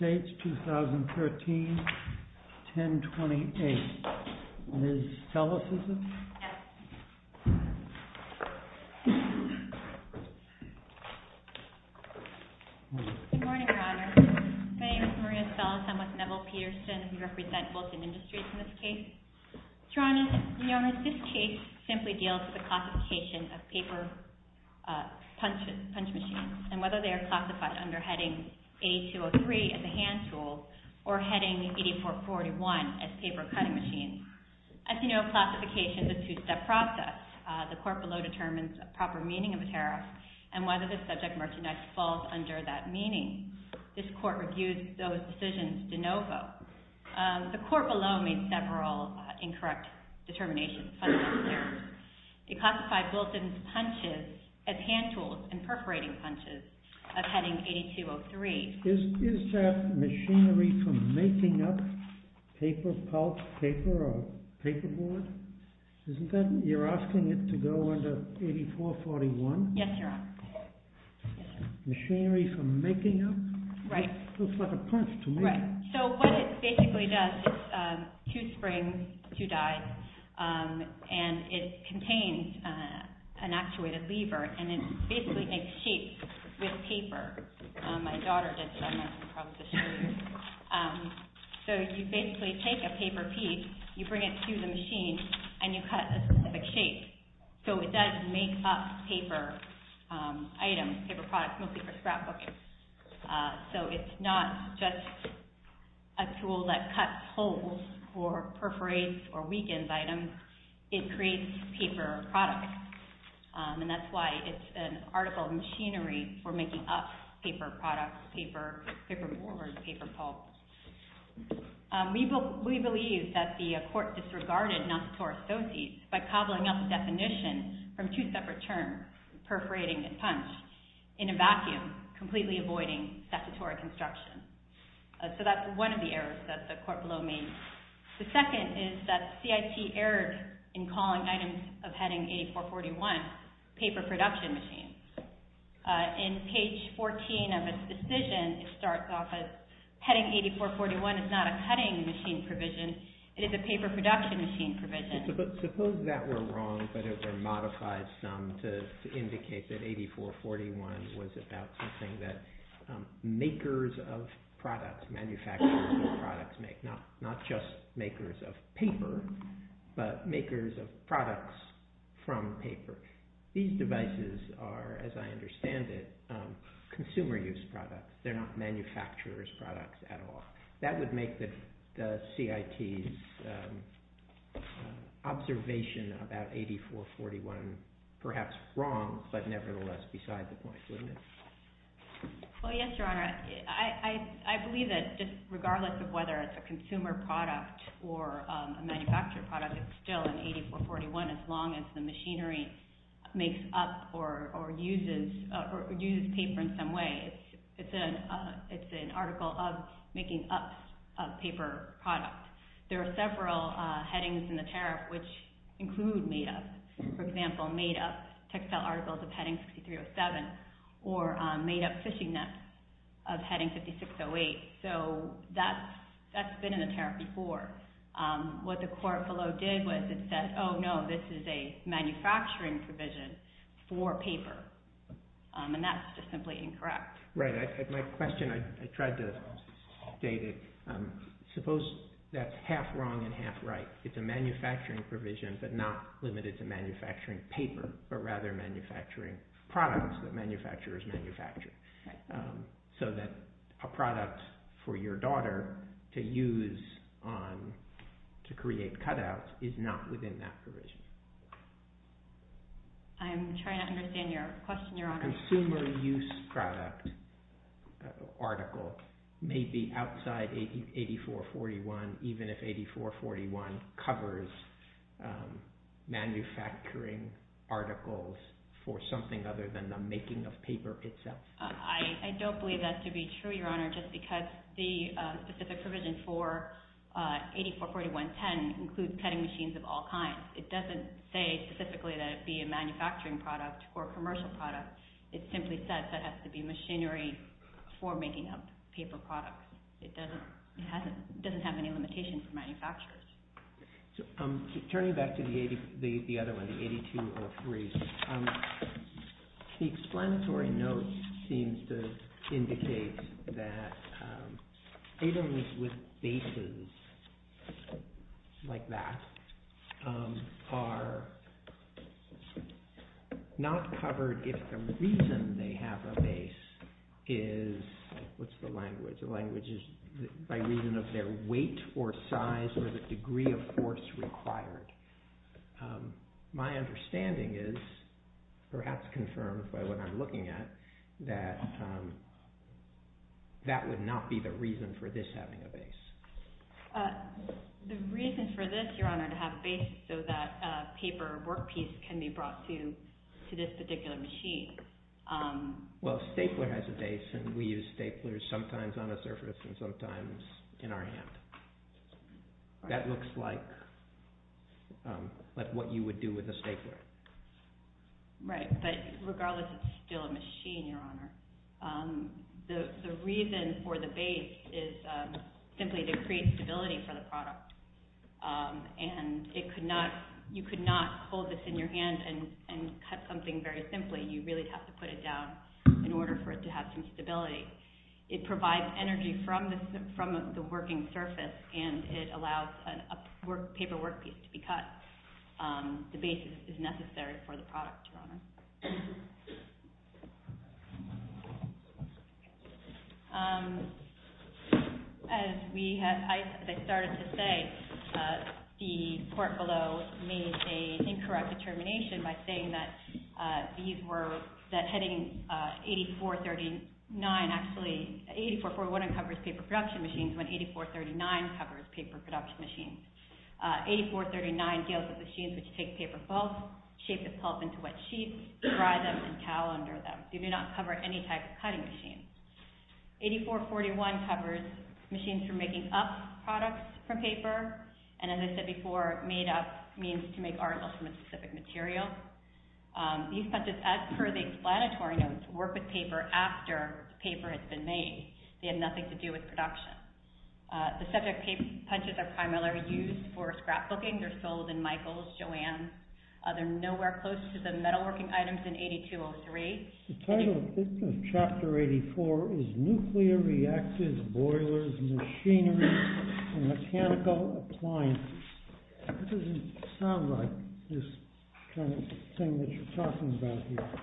2013-1028. Ms. Ellis, is it? Yes, it is. Good morning, Your Honor. My name is Maria Ellis. I'm with Neville Peterson, and we represent Fulton Industries in this case. Your Honor, you notice this case simply deals with the classification of paper punch machines, and whether they are classified under heading A-203 as a hand tool or heading 84-41 as paper cutting machines. As you know, classification is a two-step process. The court below determines the proper meaning of the tariff and whether the subject merchandise falls under that meaning. This court reviews those decisions de novo. The court below made several incorrect determinations. It classified Fulton's punches as hand tools and perforating punches of heading 82-03. Is that machinery for making up paper pulp paper or paperboard? You're asking it to go under 84-41? Yes, Your Honor. Machinery for making up? Right. It looks like a punch to me. Right. So what it basically does is two springs, two dies, and it contains an actuated lever, and it basically makes sheets with paper. My daughter did some of this. So you basically take a paper piece, you bring it to the machine, and you cut a specific shape. So it does make up paper items, paper products, mostly for scrapbooking. So it's not just a tool that cuts holes or perforates or weakens items. It creates paper products. And that's why it's an article of machinery for making up paper products, paperboard, paper pulp. We believe that the court disregarded non-statutory associates by cobbling up a definition from two separate terms, perforating and punch, in a vacuum, completely avoiding statutory construction. So that's one of the reasons. The second is that CIT erred in calling items of heading 84-41 paper production machines. In page 14 of its decision, it starts off as heading 84-41 is not a cutting machine provision, it is a paper production machine provision. But suppose that were wrong, but it were modified some to indicate that 84-41 was about something that makers of products, manufacturers of products make, not just makers of paper, but makers of products from paper. These devices are, as I understand it, consumer use products. They're not manufacturer's products at all. That would make the CIT's observation about 84-41 perhaps wrong, but regardless of whether it's a consumer product or a manufacturer product, it's still an 84-41 as long as the machinery makes up or uses paper in some way. It's an article of making up of paper product. There are several headings in the tariff which include made up. For example, made up textile articles of heading 6307 or made up fishing nets of heading 5608. So that's been in the tariff before. What the court below did was it said, oh no, this is a manufacturing provision for paper. And that's just simply incorrect. Right. My question, I tried to state it. Suppose that's half wrong and half right. It's a manufacturing paper, but rather manufacturing products that manufacturers manufacture. So that a product for your daughter to use to create cutouts is not within that provision. I'm trying to understand your question, Your Honor. A consumer use product article may be outside 84-41 even if 84-41 covers manufacturing articles for something other than the making of paper itself. I don't believe that to be true, Your Honor, just because the specific provision for 84-41-10 includes cutting machines of all kinds. It doesn't say specifically that it be a manufacturing product or a commercial product. It simply says that it has to be machinery for making up paper products. It doesn't have any limitations for manufacturers. Turning back to the other one, the 82-03, the explanatory note seems to indicate that items with bases like that are not covered if the reason they have a base is, what's the language, the language is by reason of their weight or size or the degree of force required. My understanding is, perhaps confirmed by what I'm looking at, that that would not be the reason for this having a base. The reason for this, Your Honor, to have a base so that a paper workpiece can be brought to this particular machine. Well, a stapler has a base and we use staplers sometimes on a surface and sometimes in our hand. That looks like what you would do with a stapler. Right, but regardless, it's still a machine, Your Honor. The reason for the base is simply to create stability for the product and you could not hold this in your hand and cut something very simply. You really have to put it down in order for it to have some stability. It provides energy from the working surface and it allows a paper workpiece to be cut. The base is necessary for the product, Your Honor. As I started to say, the court below made an incorrect determination by saying that heading 8439, actually, 8441 uncovers paper production machines when 8439 covers paper production machines. 8439 deals with machines which take paper pulp, shape the pulp into wet sheets, dry them, and calendar them. They do not cover any type of cutting machine. 8441 covers machines for making up products from paper and as I said before, made up means to make articles from a specific material. These punches, as per the explanatory notes, work with paper after the paper has been made. They have nothing to do with production. The subject punches are primarily used for scrapbooking. They're sold in Michael's, Joanne's. They're nowhere close to the metalworking items in 8203. The title of Chapter 84 is Nuclear Reactors, Boilers, Machinery, and Mechanical Appliances. It doesn't sound like this kind of thing that you're talking about here.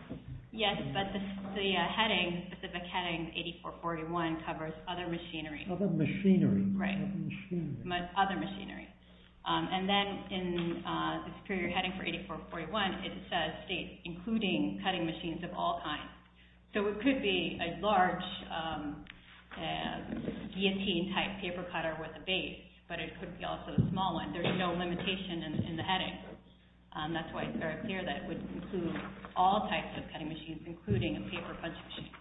Yes, but the heading, the specific heading 8441 covers other machinery. Other machinery. Other machinery. Other machinery. And then in the superior heading for 8441, it says states including cutting machines of all kinds. So it could be a large guillotine type paper cutter with a base, but it could be also a small one. There's no limitation in the heading. That's why it's very clear that it would include all types of cutting machines, including a paper punching machine.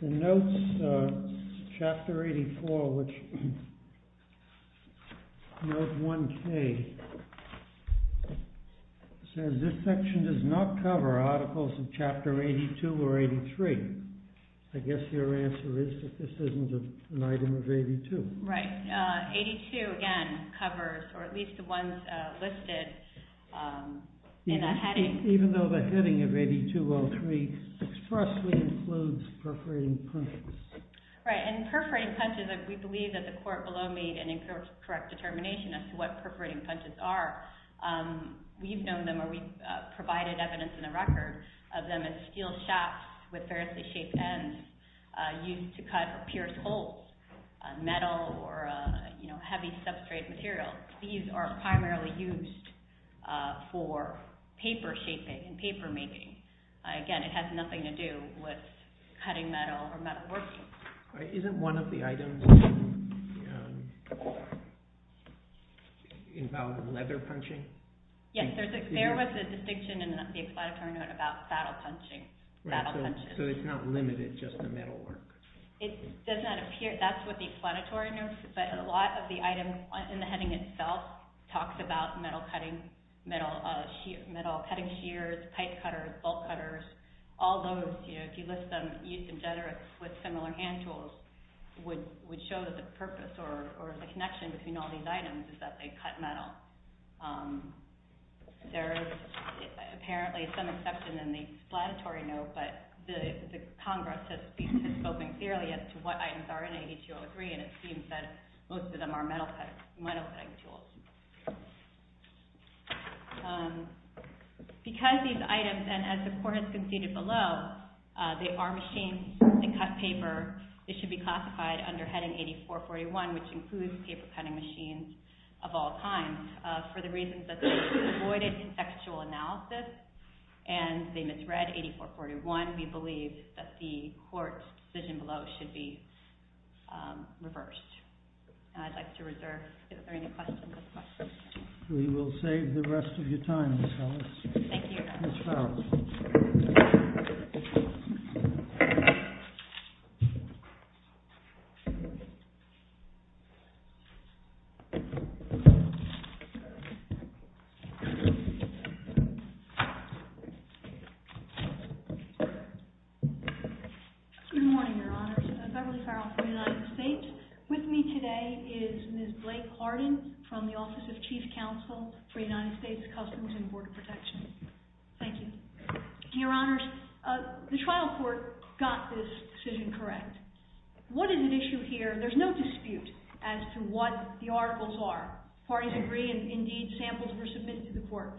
The notes, Chapter 84, which, Note 1K, says this section does not cover articles of Chapter 82 or 83. I guess your answer is that this isn't an item of 82. Right. 82, again, covers, or at least the ones listed in that heading. Even though the heading of 8203 expressly includes perforating punches. Right, and perforating punches, we believe that the court below made an incorrect determination as to what perforating punches are. We've known them, or we've provided evidence in the record of them as steel shafts with variously shaped ends used to cut or pierce holes, metal or heavy substrate materials. These are primarily used for paper shaping and paper making. Again, it has nothing to do with cutting metal or metalworking. Isn't one of the items involved in leather punching? Yes, there was a distinction in the explanatory note about saddle punching. Right, so it's not limited just to metalwork. It does not appear, that's what the explanatory notes, but a lot of the items in the heading itself talks about metal cutting, metal cutting shears, pipe cutters, bolt cutters. All those, if you list them, used in generics with similar hand tools, would show that the purpose or the connection between all these items is that they cut metal. There is apparently some exception in the explanatory note, but the Congress has spoken clearly as to what items are in 8203, and it seems that most of them are metal cutting tools. Because these items, and as the court has conceded below, they are machines that cut paper, they should be classified under heading 8441, which includes paper cutting machines of all kinds, for the reasons that they avoided contextual analysis, and they misread 8441. We believe that the court's decision below should be reversed. I'd like to reserve, if there are any questions, those questions. We will save the rest of your time, Ms. Farris. Thank you. Ms. Farris. Good morning, Your Honors. I'm Beverly Farrell for the United States. With me today is Ms. Blake Hardin from the Office of Chief Counsel for the United States Customs and Border Protection. Thank you. Your Honors, the trial court got this decision correct. What is at issue here? There's no dispute as to what the articles are. Parties agree, and indeed samples were submitted to the court.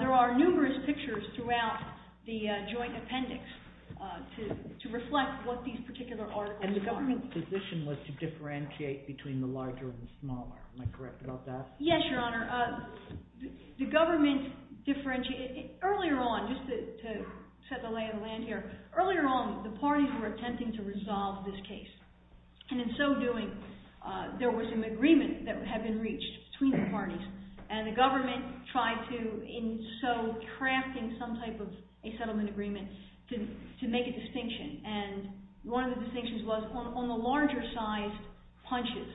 There are numerous pictures throughout the joint appendix to reflect what these particular articles are. And the government's position was to differentiate between the larger and the smaller. Am I correct about that? Yes, Your Honor. The government differentiated. Earlier on, just to set the lay of the land here, earlier on the parties were attempting to resolve this case. And in so doing, there was an agreement that had been reached between the parties. And the government tried to, in so crafting some type of a settlement agreement, to make a distinction. And one of the distinctions was on the larger size punches,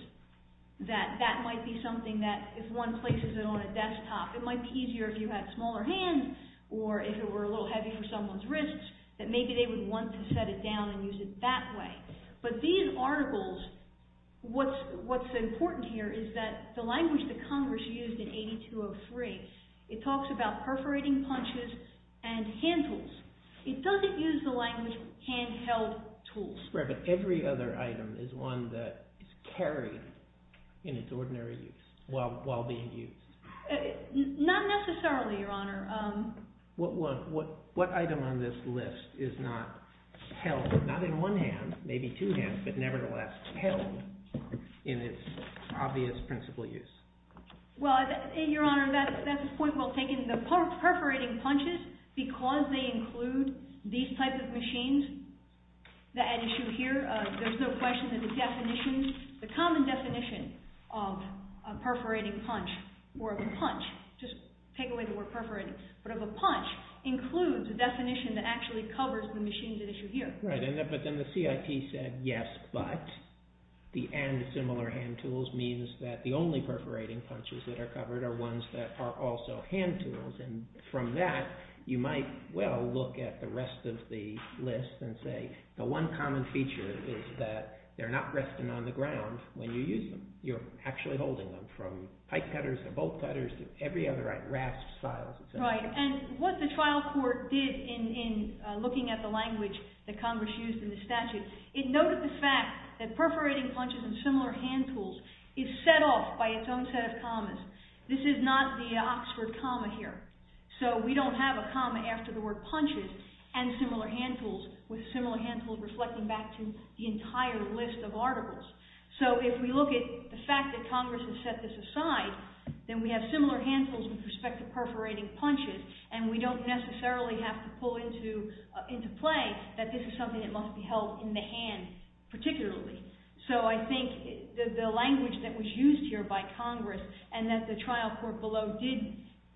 that that might be something that if one places it on a desktop, it might be easier if you had smaller hands or if it were a little heavy for someone's wrists, that maybe they would want to set it down and use it that way. But these articles, what's important here is that the language that Congress used in 8203, it talks about perforating punches and hand tools. It doesn't use the language hand-held tools. Right, but every other item is one that is carried in its ordinary use while being used. Not necessarily, Your Honor. What item on this list is not held, not in one hand, maybe two hands, but nevertheless held in its obvious principle use? Well, Your Honor, that's a point well taken. The perforating punches, because they include these types of machines, an issue here, there's no question that the definition, the common definition of a perforating punch or of a punch, just take away the word perforating, but of a punch includes a definition that actually covers the machines at issue here. Right, but then the CIT said, yes, but, the and similar hand tools means that the only perforating punches that are covered are ones that are also hand tools. And from that, you might well look at the rest of the list and say, the one common feature is that they're not resting on the ground when you use them. You're actually holding them from pipe cutters to bolt cutters to every other, like, rasp files. Right, and what the trial court did in looking at the language that Congress used in the statute, it noted the fact that perforating punches and similar hand tools is set off by its own set of commas. This is not the Oxford comma here. So we don't have a comma after the word punches and similar hand tools with similar hand tools reflecting back to the entire list of articles. So if we look at the fact that Congress has set this aside, then we have similar hand tools with respect to perforating punches, and we don't necessarily have to pull into play that this is something that must be held in the hand particularly. So I think the language that was used here by Congress and that the trial court below did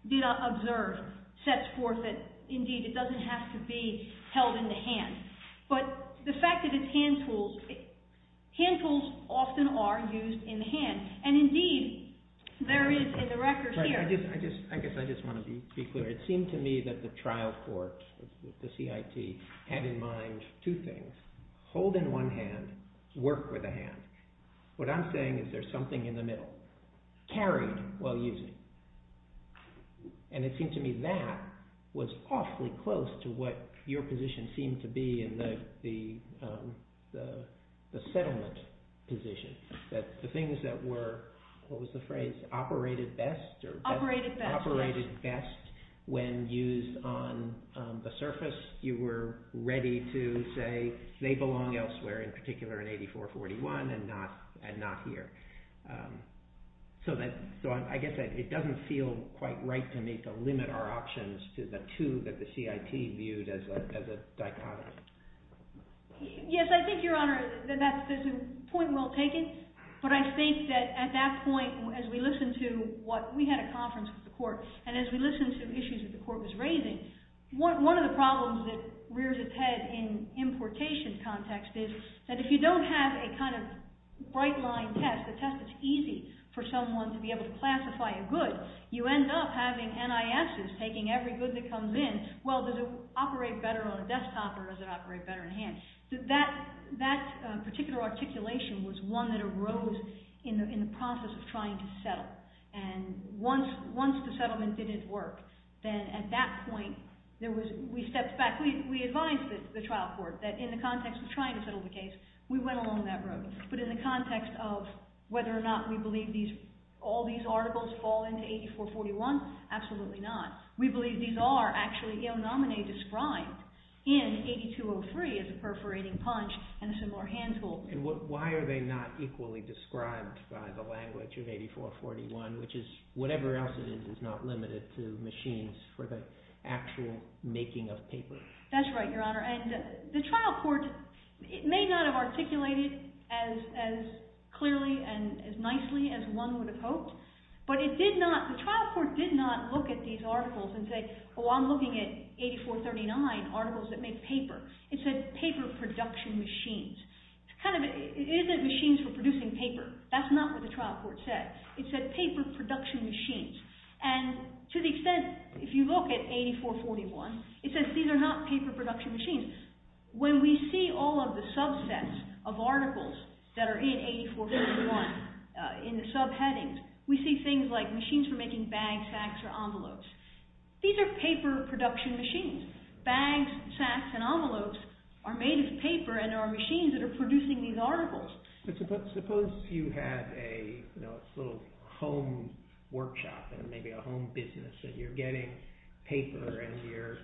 observe sets forth that indeed it doesn't have to be held in the hand. But the fact that it's hand tools, hand tools often are used in the hand. And indeed there is in the record here... I guess I just want to be clear. It seemed to me that the trial court, the CIT, had in mind two things. Hold in one hand, work with a hand. What I'm saying is there's something in the middle. Carry while using. And it seemed to me that was awfully close to what your position seemed to be in the settlement position. That the things that were... What was the phrase? Operated best? Operated best. Operated best. When used on the surface, you were ready to say they belong elsewhere, in particular in 8441 and not here. So I guess it doesn't feel quite right to me to limit our options to the two that the CIT viewed as a dichotomy. Yes, I think, Your Honor, that's a point well taken. But I think that at that point, as we listened to what we had a conference with the court, and as we listened to issues that the court was raising, one of the problems that rears its head in importation context is that if you don't have a kind of bright line test, a test that's easy for someone to be able to classify a good, you end up having NISs taking every good that comes in. Well, does it operate better on a desktop or does it operate better in hand? That particular articulation was one that arose in the process of trying to settle. And once the settlement didn't work, then at that point, we stepped back. We advised the trial court that in the context of trying to settle the case, we went along that road. But in the context of whether or not we believe all these articles fall into 8441, absolutely not. We believe these are actually il nomine described in 8203 as a perforating punch and a similar hand tool. And why are they not equally described by the language of 8441, which is whatever else it is is not limited to machines for the actual making of paper? That's right, Your Honor. And the trial court may not have articulated as clearly and as nicely as one would have hoped, but the trial court did not look at these articles and say, oh, I'm looking at 8439 articles that make paper. It said paper production machines. It isn't machines for producing paper. That's not what the trial court said. It said paper production machines. And to the extent, if you look at 8441, it says these are not paper production machines. When we see all of the subsets of articles that are in 8441 in the subheadings, we see things like machines for making bags, sacks, or envelopes. These are paper production machines. Bags, sacks, and envelopes are made of paper and are machines that are producing these articles. But suppose you had a little home workshop and maybe a home business and you're getting paper and you're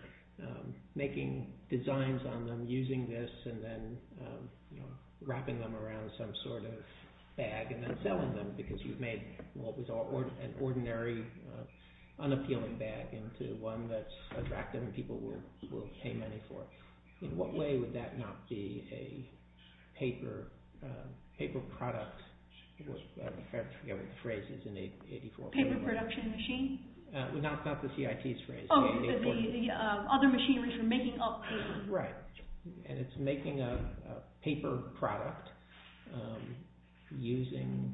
making designs on them, using this, and then wrapping them around some sort of bag and then selling them because you've made what was an ordinary, unappealing bag into one that's attractive and people will pay money for. In what way would that not be a paper product? I forget what the phrase is in 8441. Paper production machine? No, it's not the CIT's phrase. Oh, the other machinery for making up paper. Right. And it's making a paper product using...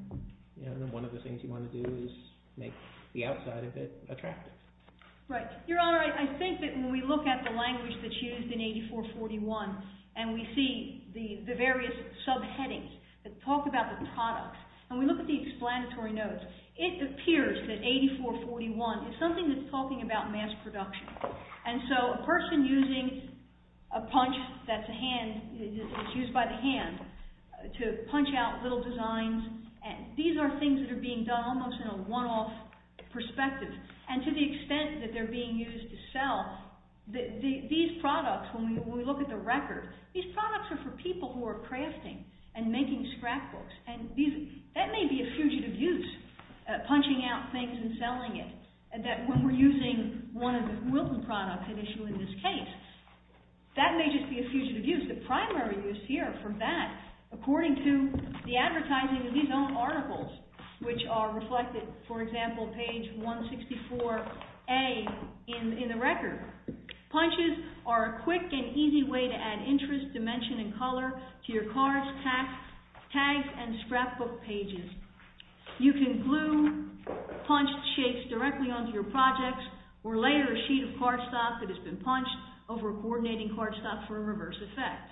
One of the things you want to do is make the outside of it attractive. Right. Your Honor, I think that when we look at the language that's used in 8441 and we see the various subheadings that talk about the products and we look at the explanatory notes, it appears that 8441 is something that's talking about mass production. And so a person using a punch that's used by the hand to punch out little designs, these are things that are being done almost in a one-off perspective. And to the extent that they're being used to sell, these products, when we look at the record, these products are for people who are crafting and making scrapbooks. That may be a fugitive use, punching out things and selling it, that when we're using one of the Wilton products, an issue in this case, that may just be a fugitive use. The primary use here for that, according to the advertising of these own articles, which are reflected, for example, page 164A in the record, punches are a quick and easy way to add interest, dimension, and color to your cards, tags, and scrapbook pages. You can glue punched shapes directly onto your projects or layer a sheet of cardstock that has been punched over coordinating cardstock for a reverse effect.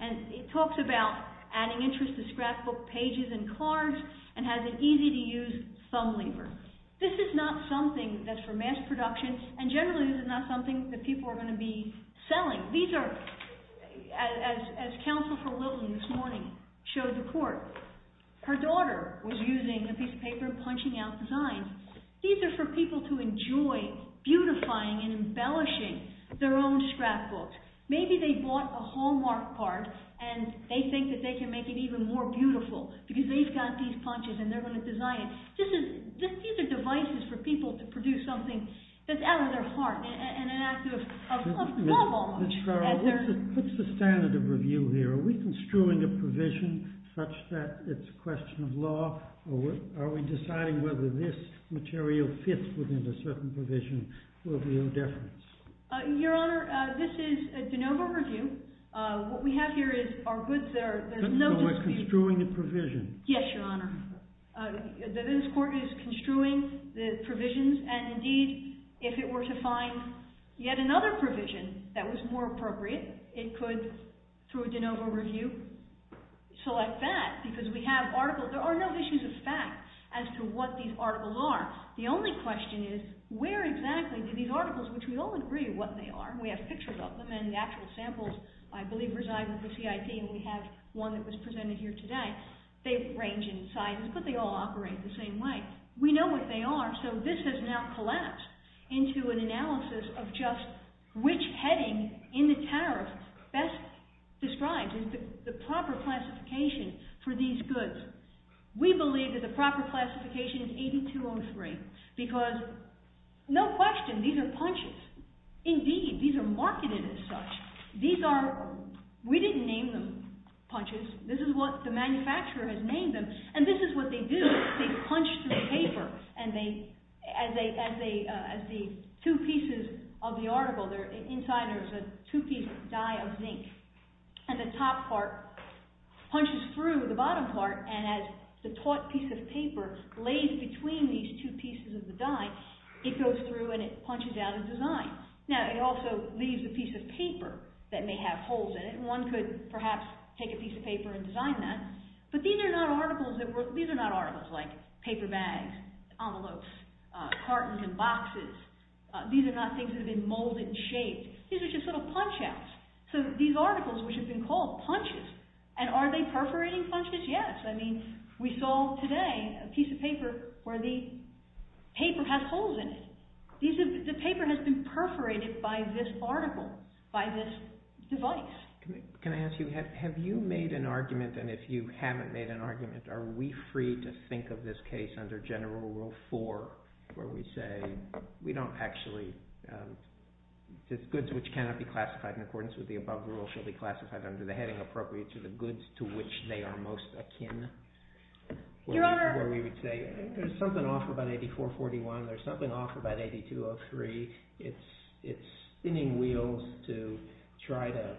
And it talks about adding interest to scrapbook pages and cards and has an easy-to-use thumb lever. This is not something that's for mass production and generally this is not something that people are going to be selling. As Counsel for Wilton this morning showed the court, her daughter was using a piece of paper punching out designs. These are for people to enjoy beautifying and embellishing their own scrapbooks. Maybe they bought a Hallmark card and they think that they can make it even more beautiful because they've got these punches and they're going to design it. These are devices for people to produce something that's out of their heart and an act of love almost. Ms. Farrell, what's the standard of review here? Are we construing a provision such that it's a question of law or are we deciding whether this material fits within a certain provision or if we owe deference? Your Honor, this is a de novo review. What we have here is our goods. So we're construing a provision? Yes, Your Honor. This court is construing the provisions and indeed if it were to find yet another provision that was more appropriate it could, through a de novo review, select that because we have articles, there are no issues of fact as to what these articles are. The only question is where exactly do these articles, which we all agree what they are, we have pictures of them and the actual samples I believe reside with the CIP and we have one that was presented here today, they range in size but they all operate the same way. We know what they are so this has now collapsed into an analysis of just which heading in the tariff best describes the proper classification for these goods. We believe that the proper classification is 8203 because, no question, these are punches. Indeed, these are marketed as such. We didn't name them punches. This is what the manufacturer has named them and this is what they do. They punch through paper and as the two pieces of the article, inside there is a two-piece die of zinc and the top part punches through the bottom part and as the taut piece of paper lays between these two pieces of the die it goes through and it punches out a design. Now it also leaves a piece of paper that may have holes in it and one could perhaps take a piece of paper and design that but these are not articles like paper bags, envelopes, cartons and boxes. These are not things that have been molded and shaped. These are just little punch-outs. So these articles which have been called punches and are they perforating punches? Yes. We saw today a piece of paper where the paper has holes in it. The paper has been perforated by this article, by this device. Can I ask you, have you made an argument and if you haven't made an argument, are we free to think of this case under General Rule 4 where we say goods which cannot be classified in accordance with the above rule shall be classified under the heading appropriate to the goods to which they are most akin? Your Honor... Where we would say there's something off about 8441, there's something off about 8203. It's spinning wheels to try to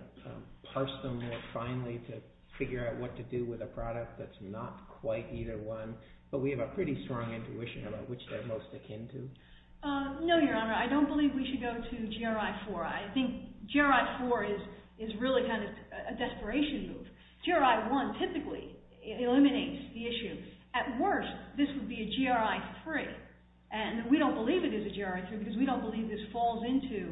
parse them more finely to figure out what to do with a product that's not quite either one but we have a pretty strong intuition about which they're most akin to. No, Your Honor. I don't believe we should go to GRI 4. I think GRI 4 is really kind of a desperation move. GRI 1 typically eliminates the issue. At worst, this would be a GRI 3 and we don't believe it is a GRI 3 because we don't believe this falls into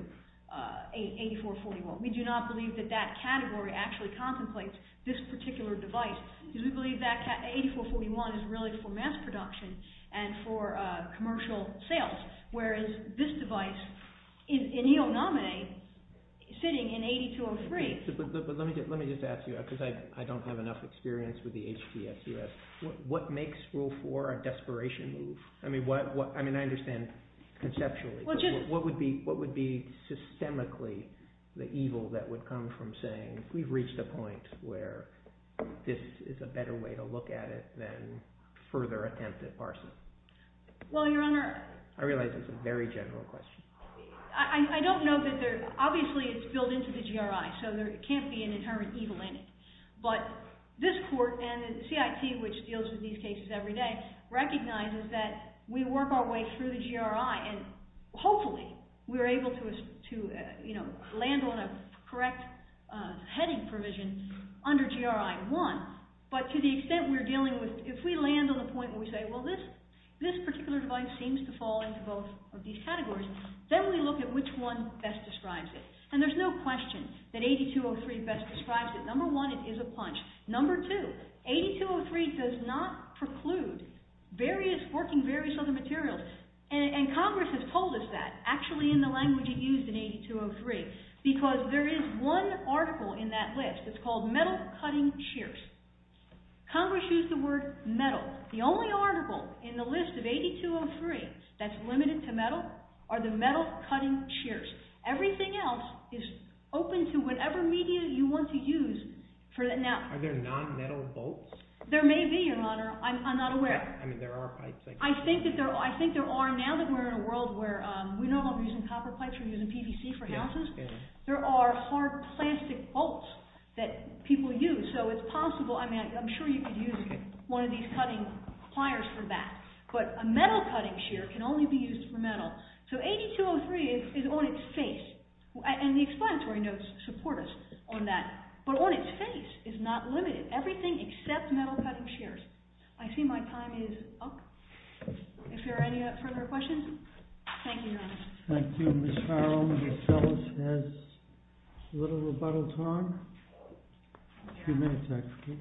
8441. We do not believe that that category actually contemplates this particular device because we believe that 8441 is really for mass production and for commercial sales whereas this device in E.O. Nomine sitting in 8203... Let me just ask you, because I don't have enough experience with the HTSUS, what makes Rule 4 a desperation move? I mean, I understand conceptually, but what would be systemically the evil that would come from saying we've reached a point where this is a better way to look at it than further attempt at parsing? Well, Your Honor... I realize it's a very general question. I don't know that there... Obviously, it's built into the GRI, so there can't be an inherent evil in it. But this Court and the CIT, which deals with these cases every day, recognizes that we work our way through the GRI and hopefully we're able to land on a correct heading provision under GRI 1. But to the extent we're dealing with... If we land on the point where we say, well, this particular device seems to fall into both of these categories, then we look at which one best describes it. And there's no question that 8203 best describes it. Number one, it is a punch. Number two, 8203 does not preclude various... working various other materials. And Congress has told us that, actually in the language it used in 8203, because there is one article in that list. It's called Metal Cutting Shears. Congress used the word metal. The only article in the list of 8203 that's limited to metal are the Metal Cutting Shears. Everything else is open to whatever media you want to use. Are there non-metal bolts? There may be, Your Honor. I'm not aware. I mean, there are pipes. I think there are now that we're in a world where... We're not only using copper pipes, we're using PVC for houses. There are hard plastic bolts that people use. I'm sure you could use one of these cutting pliers for that. But a Metal Cutting Shear can only be used for metal. So 8203 is on its face. And the explanatory notes support us on that. But on its face is not limited. Everything except Metal Cutting Shears. I see my time is up. If there are any further questions? Thank you, Your Honor. Thank you, Ms. Farrell. Ms. Ellis has a little rebuttal time. A few minutes, actually.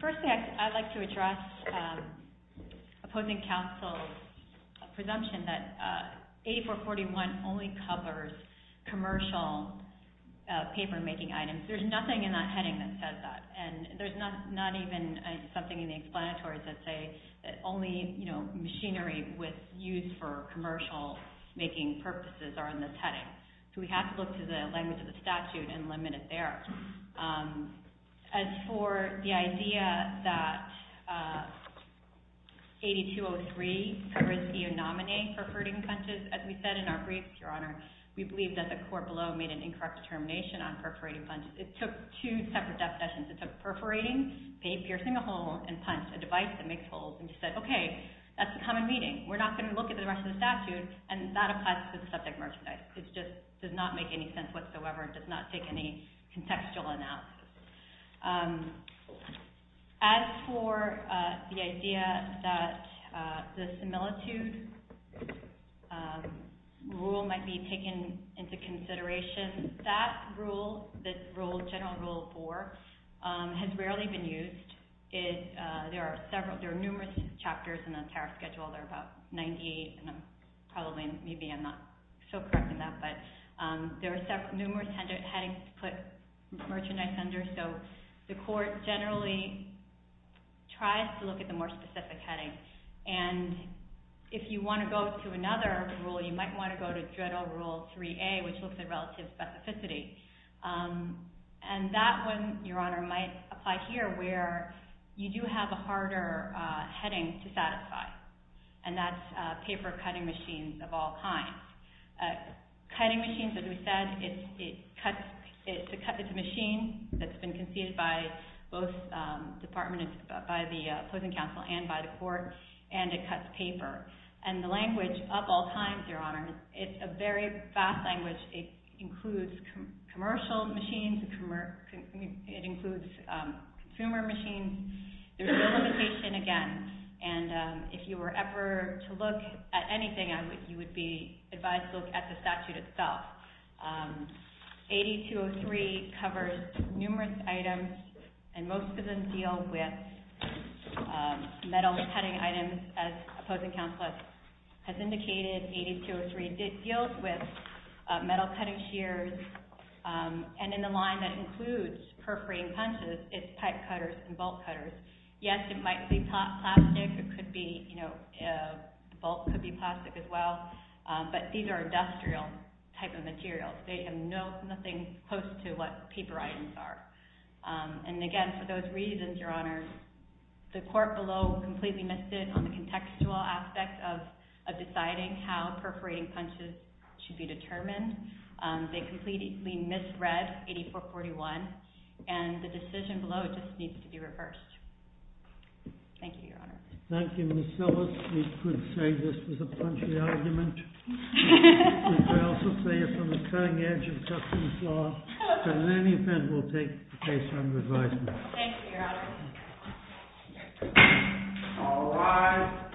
Firstly, I'd like to address opposing counsel's presumption that 8441 only covers commercial paper-making items. There's nothing in that heading that says that. And there's not even something in the explanatory that says that only machinery used for commercial-making purposes are in this heading. So we have to look to the language of the statute and limit it there. As for the idea that 8203 covers the anomaly of perforating punches, as we said in our brief, Your Honor, we believe that the court below made an incorrect determination on perforating punches. It took two separate definitions. It took perforating, piercing a hole, and punch, a device that makes holes. And she said, OK, that's a common meaning. We're not going to look at the rest of the statute, and that applies to the subject matter today. It just does not make any sense whatsoever. It does not take any contextual analysis. As for the idea that the similitude rule might be taken into consideration, that rule, General Rule 4, has rarely been used. There are numerous chapters in the tariff schedule. There are about 98, and maybe I'm not so correct in that. But there are numerous headings to put merchandise under. So the court generally tries to look at the more specific headings. And if you want to go to another rule, you might want to go to General Rule 3A, which looks at relative specificity. And that one, Your Honor, might apply here, where you do have a harder heading to satisfy, and that's paper cutting machines of all kinds. Cutting machines, as we said, it's a machine that's been conceived by both departments, by the opposing counsel and by the court, and it cuts paper. And the language, up all times, Your Honor, it's a very fast language. It includes commercial machines. It includes consumer machines. There's no limitation, again. And if you were ever to look at anything, you would be advised to look at the statute itself. 8203 covers numerous items, and most of them deal with metal cutting items as opposing counsel has indicated. 8203 deals with metal cutting shears. And in the line that includes perforating punches, it's pipe cutters and bolt cutters. Yes, it might be plastic. It could be, you know, the bolt could be plastic as well. But these are industrial type of materials. They have nothing close to what paper items are. And again, for those reasons, Your Honor, the court below completely missed it on the contextual aspect of deciding how perforating punches should be determined. They completely misread 8441. And the decision below just needs to be reversed. Thank you, Your Honor. Thank you, Ms. Silvers. We could say this was a punchy argument. We could also say it's on the cutting edge of customs law. And in any event, we'll take the case under advisement. Thank you, Your Honor. All rise.